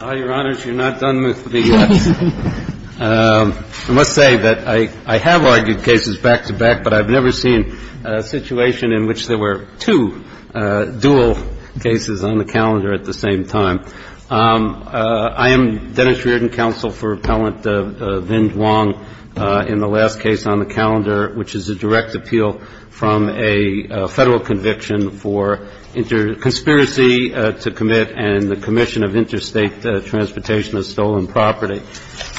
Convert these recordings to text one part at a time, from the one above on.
All your honors, you're not done with me yet. I must say that I have argued cases back-to-back, but I've never seen a situation in which there were two dual cases on the calendar at the same time. I am Dennis Reardon, counsel for Appellant Vinh Duong, in the last case on the calendar, which is a direct appeal from a Federal conviction for conspiracy to commit and the commission of interstate transportation of stolen property.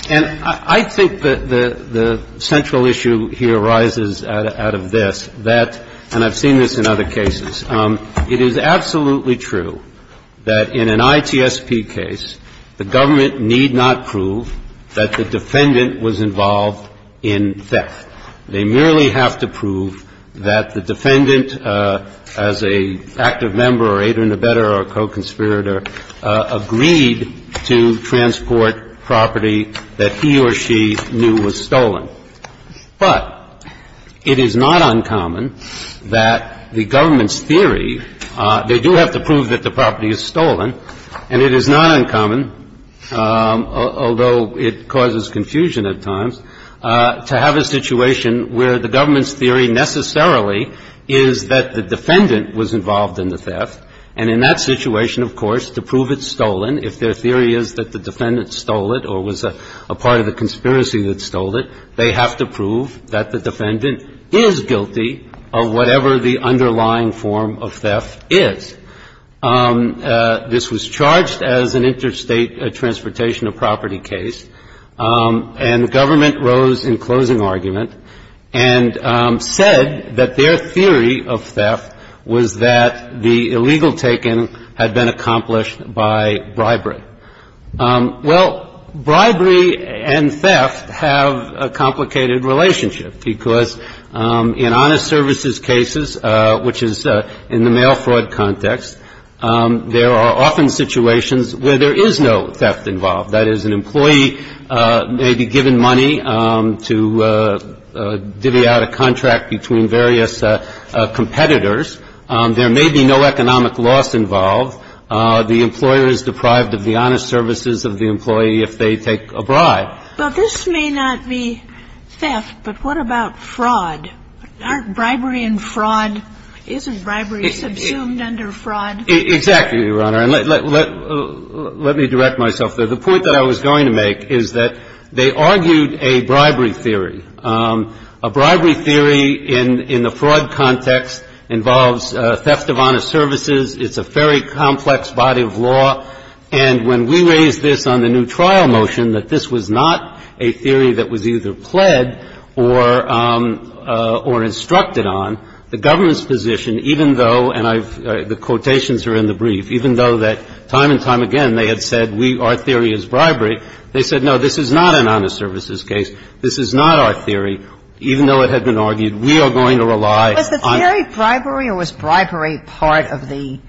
And I think that the central issue here arises out of this, that, and I've seen this in other cases, it is absolutely true that in an ITSP case, the government need not prove that the defendant was involved in theft. They merely have to prove that the defendant, as an active member or aider-in-the-bedder or co-conspirator, agreed to transport property that he or she knew was stolen. But it is not uncommon that the government's theory, they do have to prove that the property is stolen, and it is not uncommon, although it causes confusion at times, to have a situation where the government's theory necessarily is that the defendant was involved in the theft, and in that situation, of course, to prove it's stolen, if their theory is that the defendant stole it or was a part of the conspiracy that stole it, they have to prove that the defendant is guilty of whatever the underlying form of theft is. This was charged as an interstate transportation of property case, and the government rose in closing argument and said that their theory of theft was that the illegal taking had been accomplished by bribery. Well, bribery and theft have a complicated relationship, because in honest services cases, which is in the mail fraud context, there are often situations where there is no theft involved. That is, an employee may be given money to divvy out a contract between various competitors. There may be no economic loss involved. The employer is deprived of the honest services of the employee if they take a bribe. So, there is a possibility that the government is going to raise the question of if the fraud is a bribery, and the answer is no. But this may not be theft, but what about fraud? Aren't bribery and fraud — isn't bribery subsumed under fraud? Exactly, Your Honor, and let me direct myself there. The point that I was going to make is that they argued a bribery theory. A bribery theory in the fraud context involves theft of honest services. It's a very complex body of law. And when we raised this on the new trial motion, that this was not a theory that was either pled or instructed on, the government's position, even though — and the quotations are in the brief — even though that time and time again they had said our theory is bribery, they said no, this is not an honest services case. This is not our theory. Even though it had been argued, we are going to rely on — Was the theory bribery or was bribery part of the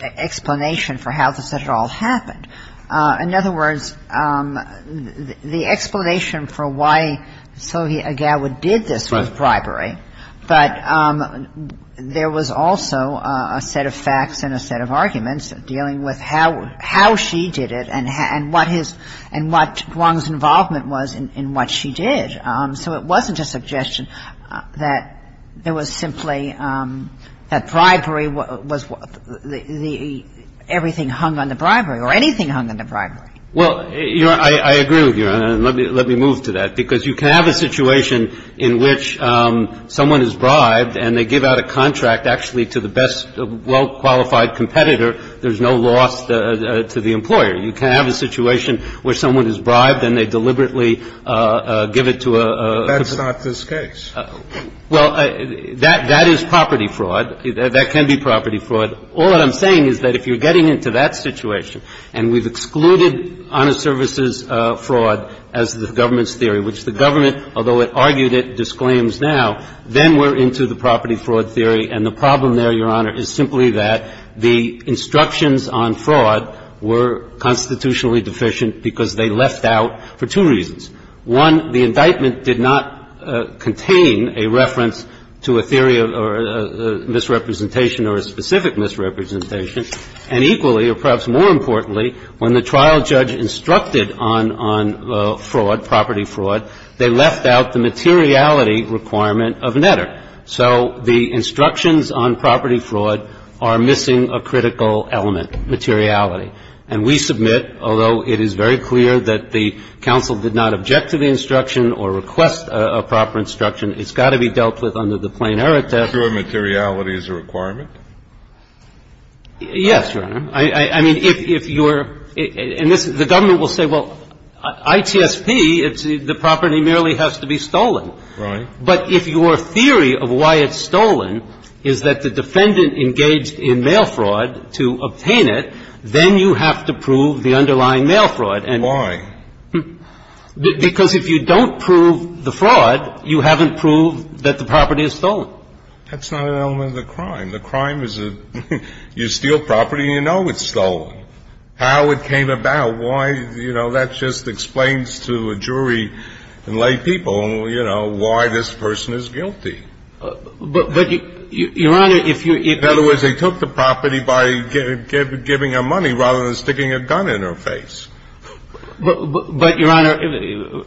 explanation for how this at all happened? In other words, the explanation for why Sylvia Agawa did this was bribery. Right. But there was also a set of facts and a set of arguments dealing with how she did it and what his — and what Wong's involvement was in what she did. So it wasn't a suggestion that there was simply — that bribery was — everything hung under bribery or anything hung under bribery. Well, Your Honor, I agree with you. And let me move to that, because you can have a situation in which someone is bribed and they give out a contract actually to the best, well-qualified competitor. There's no loss to the employer. You can have a situation where someone is bribed and they deliberately give it to a — That's not this case. Well, that is property fraud. That can be property fraud. All that I'm saying is that if you're getting into that situation and we've excluded honest services fraud as the government's theory, which the government, although it argued it, disclaims now, then we're into the property fraud theory. And the problem there, Your Honor, is simply that the instructions on fraud were constitutionally deficient because they left out for two reasons. One, the indictment did not contain a reference to a theory or a misrepresentation or a specific misrepresentation. And equally, or perhaps more importantly, when the trial judge instructed on fraud, property fraud, they left out the materiality requirement of Netter. So the instructions on property fraud are missing a critical element, materiality. And we submit, although it is very clear that the counsel did not object to the instruction or request a proper instruction, it's got to be dealt with under the plain error test. So materiality is a requirement? Yes, Your Honor. I mean, if you're — and the government will say, well, ITSP, the property merely has to be stolen. Right. But if your theory of why it's stolen is that the defendant engaged in mail fraud to obtain it, then you have to prove the underlying mail fraud. And why? Because if you don't prove the fraud, you haven't proved that the property is stolen. That's not an element of the crime. The crime is you steal property and you know it's stolen. How it came about, why, you know, that just explains to a jury in lay people, you know, why this person is guilty. But, Your Honor, if you — In other words, they took the property by giving her money rather than sticking a gun in her face. But, Your Honor,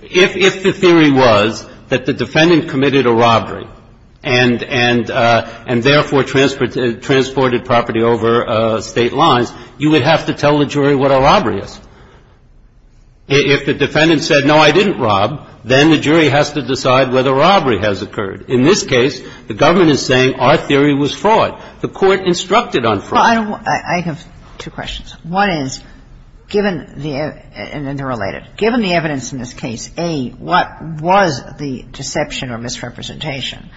if the theory was that the defendant committed a robbery and therefore transported property over State lines, you would have to tell the jury what a robbery was. If the defendant said, no, I didn't rob, then the jury has to decide whether robbery has occurred. In this case, the government is saying our theory was fraud. The Court instructed on fraud. Well, I have two questions. One is, given the — and they're related. Given the evidence in this case, A, what was the deception or misrepresentation?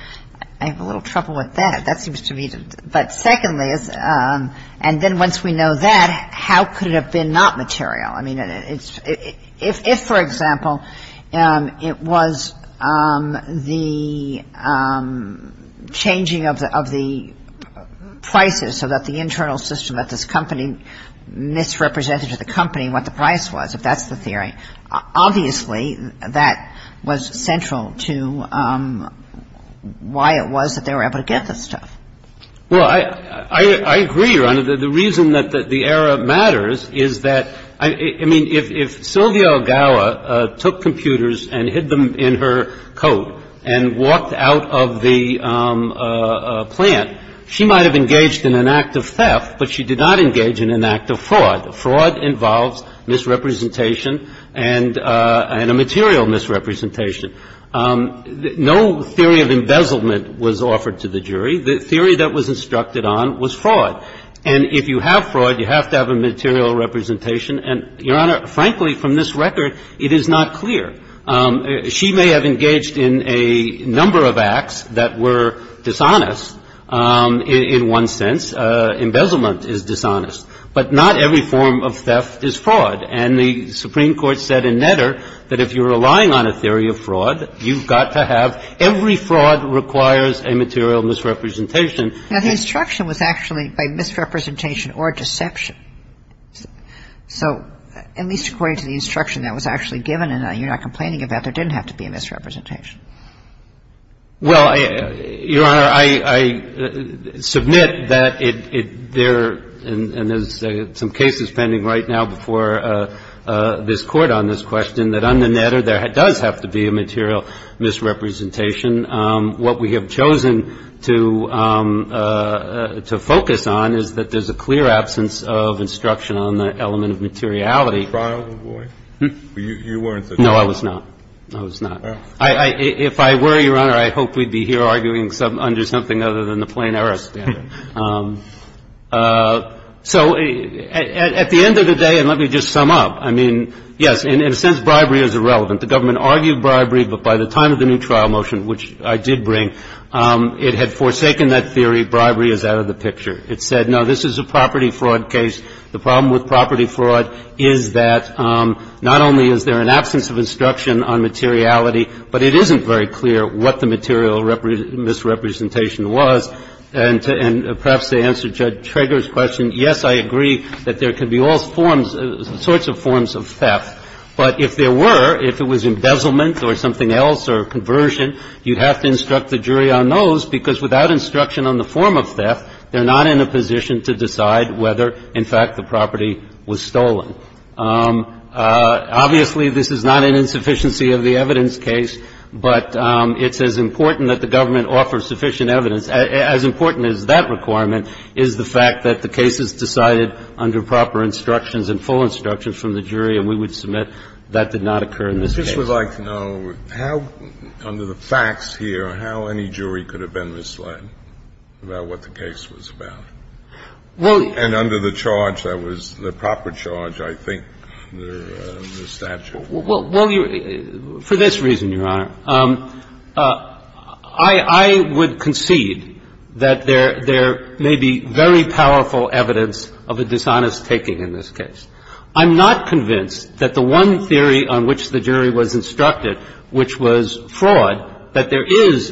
I have a little trouble with that. That seems to me to — but secondly, and then once we know that, how could it have been not material? I mean, it's — if, for example, it was the changing of the prices so that the internal system, that this company misrepresented to the company what the price was, if that's the theory, obviously that was central to why it was that they were able to get this stuff. Well, I agree, Your Honor. The reason that the error matters is that — I mean, if Sylvia Algawa took computers and hid them in her coat and walked out of the plant, she might have engaged in an act of theft, but she did not engage in an act of fraud. Fraud involves misrepresentation and a material misrepresentation. No theory of embezzlement was offered to the jury. The theory that was instructed on was fraud. And if you have fraud, you have to have a material representation. And, Your Honor, frankly, from this record, it is not clear. She may have engaged in a number of acts that were dishonest in one sense. Embezzlement is dishonest. But not every form of theft is fraud. And the Supreme Court said in Netter that if you're relying on a theory of fraud, you've got to have — every fraud requires a material misrepresentation. Now, the instruction was actually by misrepresentation or deception. So at least according to the instruction that was actually given, and you're not complaining about, there didn't have to be a misrepresentation. Well, Your Honor, I submit that there — and there's some cases pending right now before this Court on this question, that under Netter, there does have to be a material misrepresentation. What we have chosen to focus on is that there's a clear absence of instruction on the element of materiality. You weren't a trial lawyer? No, I was not. I was not. If I were, Your Honor, I hope we'd be here arguing under something other than the plain error standard. So at the end of the day, and let me just sum up, I mean, yes, in a sense, bribery is irrelevant. The government argued bribery, but by the time of the new trial motion, which I did bring, it had forsaken that theory, bribery is out of the picture. It said, no, this is a property fraud case. The problem with property fraud is that not only is there an absence of instruction on materiality, but it isn't very clear what the material misrepresentation was. And perhaps to answer Judge Trager's question, yes, I agree that there could be all sorts of forms of theft. But if there were, if it was embezzlement or something else or conversion, you'd have to instruct the jury on those, because without instruction on the form of theft, they're not in a position to decide whether, in fact, the property was stolen. Obviously, this is not an insufficiency of the evidence case, but it's as important that the government offer sufficient evidence, as important as that requirement, is the fact that the case is decided under proper instructions and full instructions from the jury, and we would submit that did not occur in this case. Kennedy. I just would like to know how, under the facts here, how any jury could have been misled about what the case was about? And under the charge that was the proper charge, I think, the statute. Well, for this reason, Your Honor, I would concede that there may be very powerful evidence of a dishonest taking in this case. I'm not convinced that the one theory on which the jury was instructed, which was fraud, that there is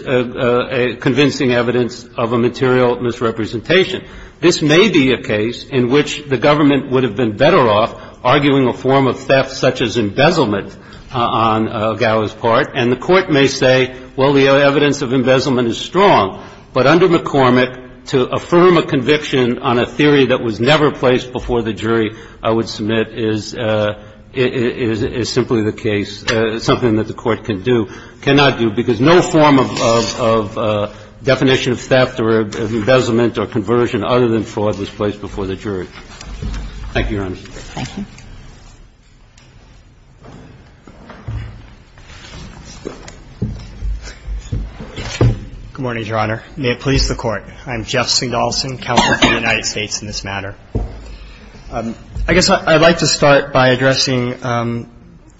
convincing evidence of a material misrepresentation. This may be a case in which the government would have been better off arguing a form of theft such as embezzlement on Gao's part. And the Court may say, well, the evidence of embezzlement is strong. But under McCormick, to affirm a conviction on a theory that was never placed before the jury, I would submit, is simply the case, something that the Court can do, cannot do, because no form of definition of theft or embezzlement or conversion other than fraud was placed before the jury. Thank you, Your Honor. Thank you. Good morning, Your Honor. May it please the Court. I'm Jeff Singdahlson, Counselor for the United States in this matter. I guess I'd like to start by addressing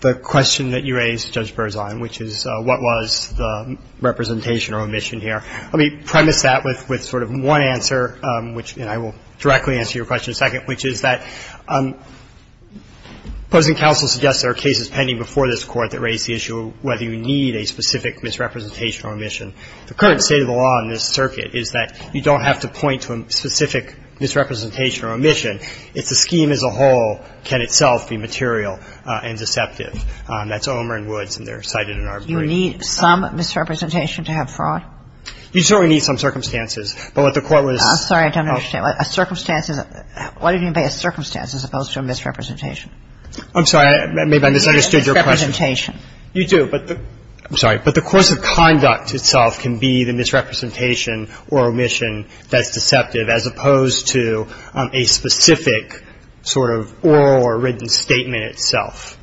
the question that you raised, Judge Berzon, which is what was the representation or omission here. Let me premise that with sort of one answer, and I will directly answer your question in a second, which is that opposing counsel suggests there are cases pending before this Court that raise the issue of whether you need a specific misrepresentation or omission. The current state of the law in this circuit is that you don't have to point to a specific misrepresentation or omission. It's the scheme as a whole can itself be material and deceptive. That's Omer and Woods, and they're cited in our brief. You need some misrepresentation to have fraud? You certainly need some circumstances. But what the Court was – What do you mean by a circumstance as opposed to a misrepresentation? I'm sorry. Maybe I misunderstood your question. You need a misrepresentation. You do, but the – I'm sorry. But the course of conduct itself can be the misrepresentation or omission that's deceptive as opposed to a specific sort of oral or written statement itself.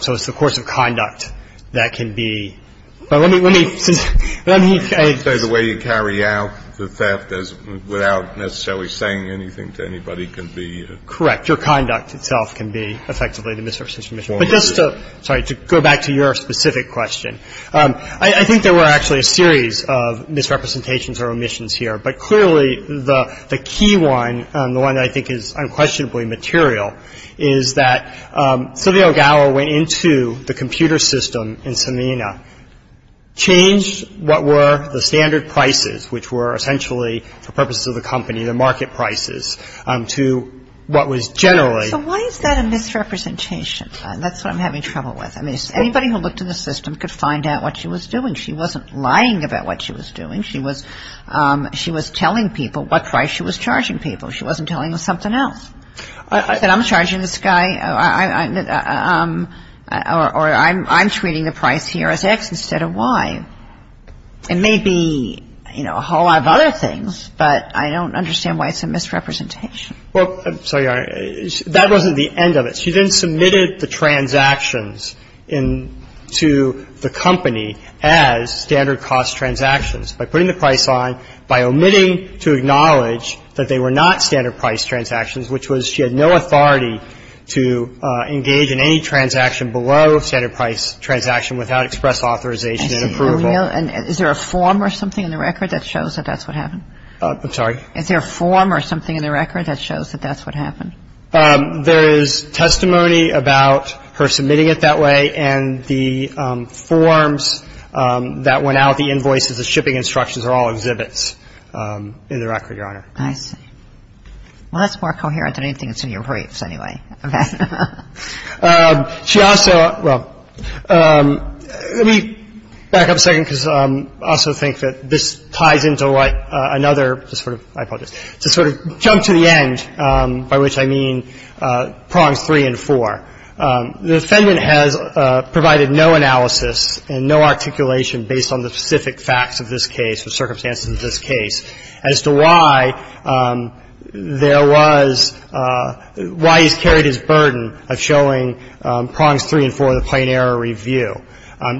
So it's the course of conduct that can be – Let me – So the way you carry out the theft is without necessarily saying anything to anybody can be – Correct. Your conduct itself can be effectively the misrepresentation or omission. But just to – sorry. To go back to your specific question, I think there were actually a series of misrepresentations or omissions here. But clearly, the key one, the one that I think is unquestionably material, is that Sylvia O'Gower went into the computer system in Samena, changed what were the standard prices, which were essentially for purposes of the company, the market prices, to what was generally – So why is that a misrepresentation? That's what I'm having trouble with. I mean, anybody who looked at the system could find out what she was doing. She wasn't lying about what she was doing. She was telling people what price she was charging people. She wasn't telling them something else. That I'm charging this guy or I'm treating the price here as X instead of Y. It may be, you know, a whole lot of other things, but I don't understand why it's a misrepresentation. Well, I'm sorry, Your Honor. That wasn't the end of it. She then submitted the transactions into the company as standard cost transactions by putting the price on, by omitting to acknowledge that they were not standard price transactions, which was she had no authority to engage in any transaction below standard price transaction without express authorization and approval. Is there a form or something in the record that shows that that's what happened? I'm sorry? Is there a form or something in the record that shows that that's what happened? There is testimony about her submitting it that way, and the forms that went out, the invoices, the shipping instructions, are all exhibits in the record, Your Honor. I see. Well, that's more coherent than anything that's in your briefs anyway. Okay. She also, well, let me back up a second because I also think that this ties into another, just sort of, I apologize, just sort of jump to the end by which I mean prongs three and four. The defendant has provided no analysis and no articulation based on the specific facts of this case or circumstances of this case as to why there was, why he's carried his burden of showing prongs three and four in the plain error review.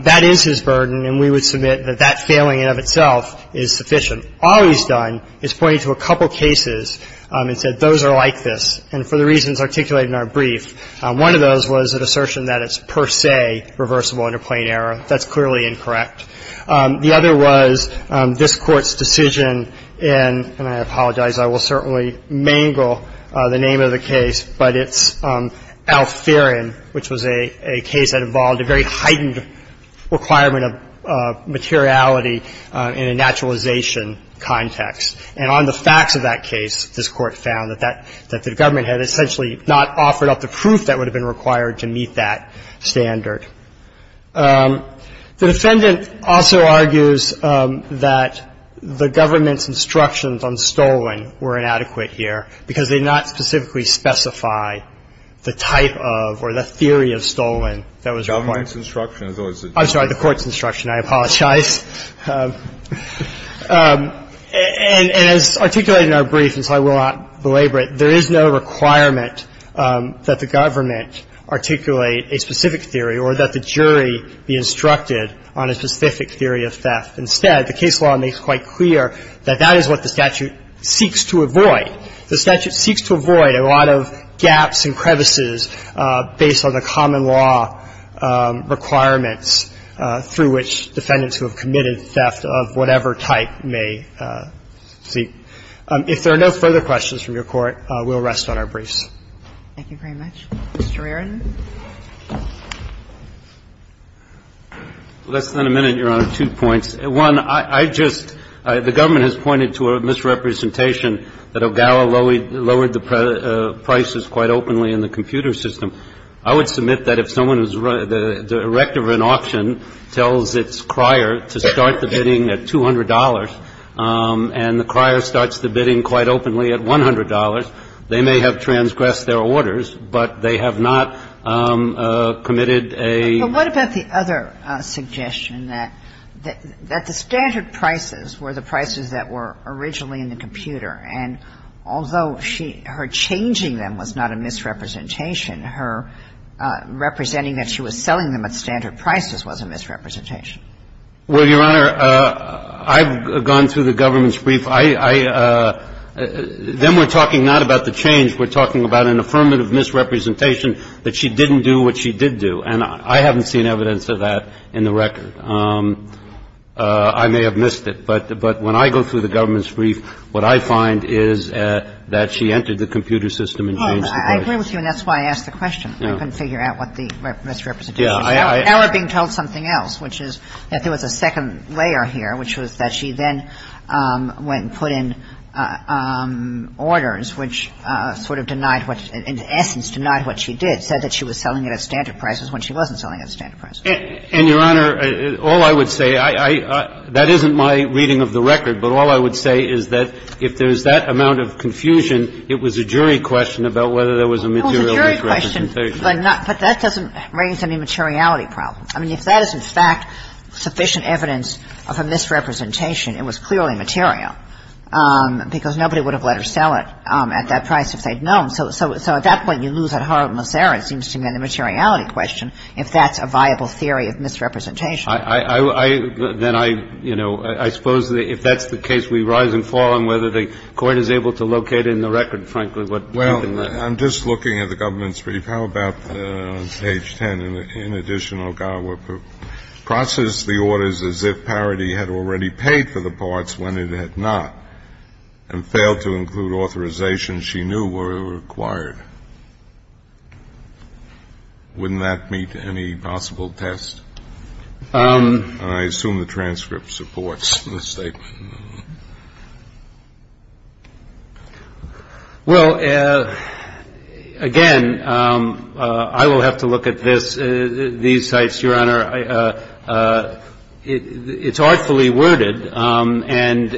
That is his burden, and we would submit that that failing in and of itself is sufficient. All he's done is pointed to a couple cases and said those are like this, and for the reasons articulated in our brief, one of those was an assertion that it's per se reversible under plain error. That's clearly incorrect. The other was this Court's decision in, and I apologize, I will certainly mangle the name of the case, but it's Alferen, which was a case that involved a very heightened requirement of materiality in a naturalization context. And on the facts of that case, this Court found that that the government had essentially not offered up the proof that would have been required to meet that standard. The defendant also argues that the government's instructions on stolen were inadequate here because they did not specifically specify the type of or the theory of stolen that was required. I'm sorry, the Court's instruction. I apologize. And as articulated in our brief, and so I will not belabor it, there is no requirement that the government articulate a specific theory or that the jury be instructed on a specific theory of theft. Instead, the case law makes quite clear that that is what the statute seeks to avoid. The statute seeks to avoid a lot of gaps and crevices based on the common law requirements through which defendants who have committed theft of whatever type may seek. If there are no further questions from your Court, we'll rest on our briefs. Thank you very much. Mr. Reardon. Less than a minute, Your Honor. Two points. One, I just – the government has pointed to a misrepresentation that Ogawa lowered the prices quite openly in the computer system. I would submit that if someone is – the director of an auction tells its crier to start the bidding at $200 and the crier starts the bidding quite openly at $100, they may have transgressed their orders, but they have not committed a – But what about the other suggestion, that the standard prices were the prices that were originally in the computer, and although her changing them was not a misrepresentation, her representing that she was selling them at standard prices was a misrepresentation? Well, Your Honor, I've gone through the government's brief. I – then we're talking not about the change. We're talking about an affirmative misrepresentation that she didn't do what she did do, and I haven't seen evidence of that in the record. I may have missed it, but when I go through the government's brief, that's why I asked the question. I couldn't figure out what the misrepresentation was. Now we're being told something else, which is that there was a second layer here, which was that she then went and put in orders which sort of denied what – in essence, denied what she did, said that she was selling it at standard prices when she wasn't selling it at standard prices. And, Your Honor, all I would say – that isn't my reading of the record, but all I would say is that if there's that amount of confusion, it was a jury question about whether there was a material misrepresentation. Well, it was a jury question, but that doesn't raise any materiality problem. I mean, if that is, in fact, sufficient evidence of a misrepresentation, it was clearly material, because nobody would have let her sell it at that price if they'd known. So at that point, you lose at heart, unless there seems to be a materiality question, if that's a viable theory of misrepresentation. I – then I – you know, I suppose if that's the case, we rise and fall on whether the Court is able to locate in the record, frankly, what happened there. Well, I'm just looking at the government's brief. How about on page 10, in addition, Ogawa processed the orders as if Parity had already paid for the parts when it had not and failed to include authorizations she knew were required. Wouldn't that meet any possible test? I assume the transcript supports the statement. Well, again, I will have to look at this, these sites, Your Honor. It's artfully worded, and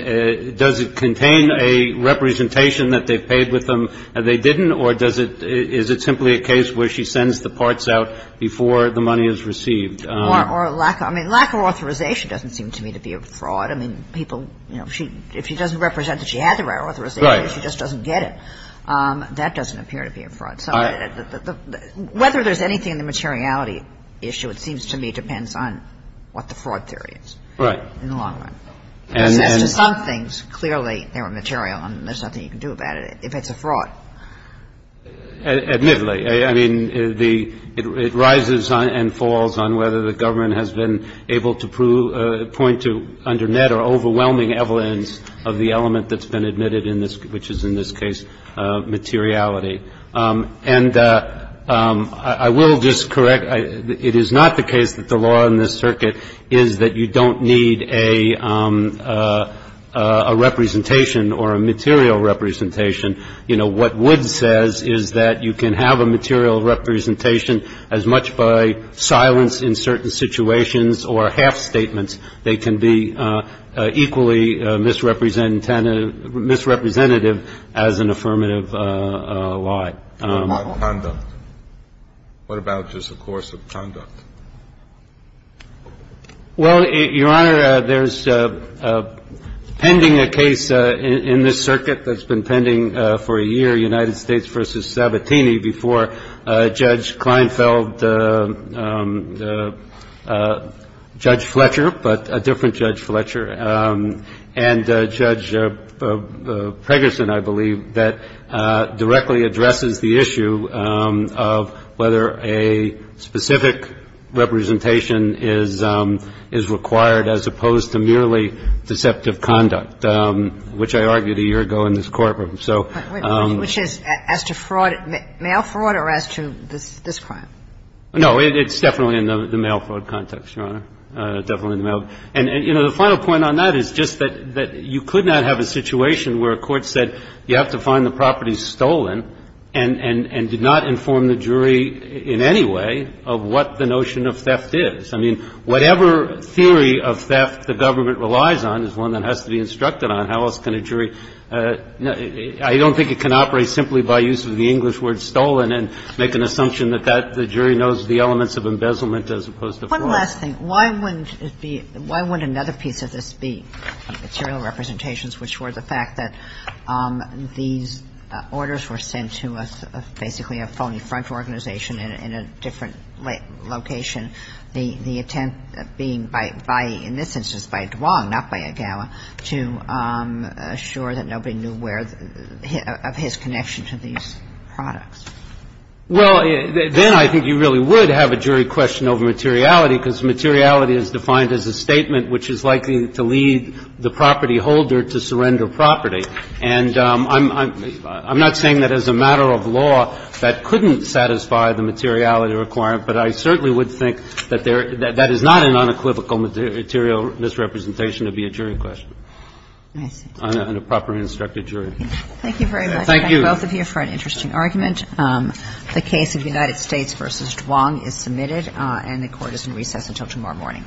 does it contain a representation that they've paid with them and they didn't, or does it – is it simply a case where she sends the parts out before the money is received? Or lack – I mean, lack of authorization doesn't seem to me to be a fraud. I mean, people – you know, if she doesn't represent that she had the right authorization, she just doesn't get it. Right. That doesn't appear to be a fraud. So whether there's anything in the materiality issue, it seems to me, depends on what the fraud theory is. Right. In the long run. As to some things, clearly, they were material and there's nothing you can do about it if it's a fraud. Admittedly. I mean, the – it rises and falls on whether the government has been able to point to, under net or overwhelming evidence, of the element that's been admitted in this – which is, in this case, materiality. And I will just correct – it is not the case that the law in this circuit is that you don't need a representation or a material representation. You know, what Wood says is that you can have a material representation as much by silence in certain situations or half statements. They can be equally misrepresentative as an affirmative lie. What about conduct? What about just the course of conduct? Well, Your Honor, there's pending a case in this circuit that's been pending for a year, United States v. Sabatini, before Judge Kleinfeld, Judge Fletcher but a different Judge Fletcher, and Judge Pregerson, I believe, that directly addresses the issue of whether a specific representation is required as opposed to merely deceptive conduct, which I argued a year ago in this courtroom. So – Which is as to fraud – mail fraud or as to this crime? No. It's definitely in the mail fraud context, Your Honor. Definitely in the mail. And, you know, the final point on that is just that you could not have a situation where a court said you have to find the property stolen and did not inform the jury in any way of what the notion of theft is. I mean, whatever theory of theft the government relies on is one that has to be instructed on how else can a jury – I don't think it can operate simply by use of the English word stolen and make an assumption that that – the jury knows the elements of embezzlement as opposed to fraud. One last thing. Why wouldn't it be – why wouldn't another piece of this be material representations, which were the fact that these orders were sent to a – basically a phony French organization in a different location, the attempt being by – in this instance by Duong, not by Agawa, to assure that nobody knew where – of his connection to these products? Well, then I think you really would have a jury question over materiality because materiality is defined as a statement which is likely to lead the property holder to surrender property. And I'm not saying that as a matter of law that couldn't satisfy the materiality requirement, but I certainly would think that there – that that is not an unequivocal material misrepresentation. It would be a jury question. I see. On a properly instructed jury. Thank you very much. Thank you. Thank both of you for an interesting argument. The case of United States v. Duong is submitted, and the Court is in recess until tomorrow morning.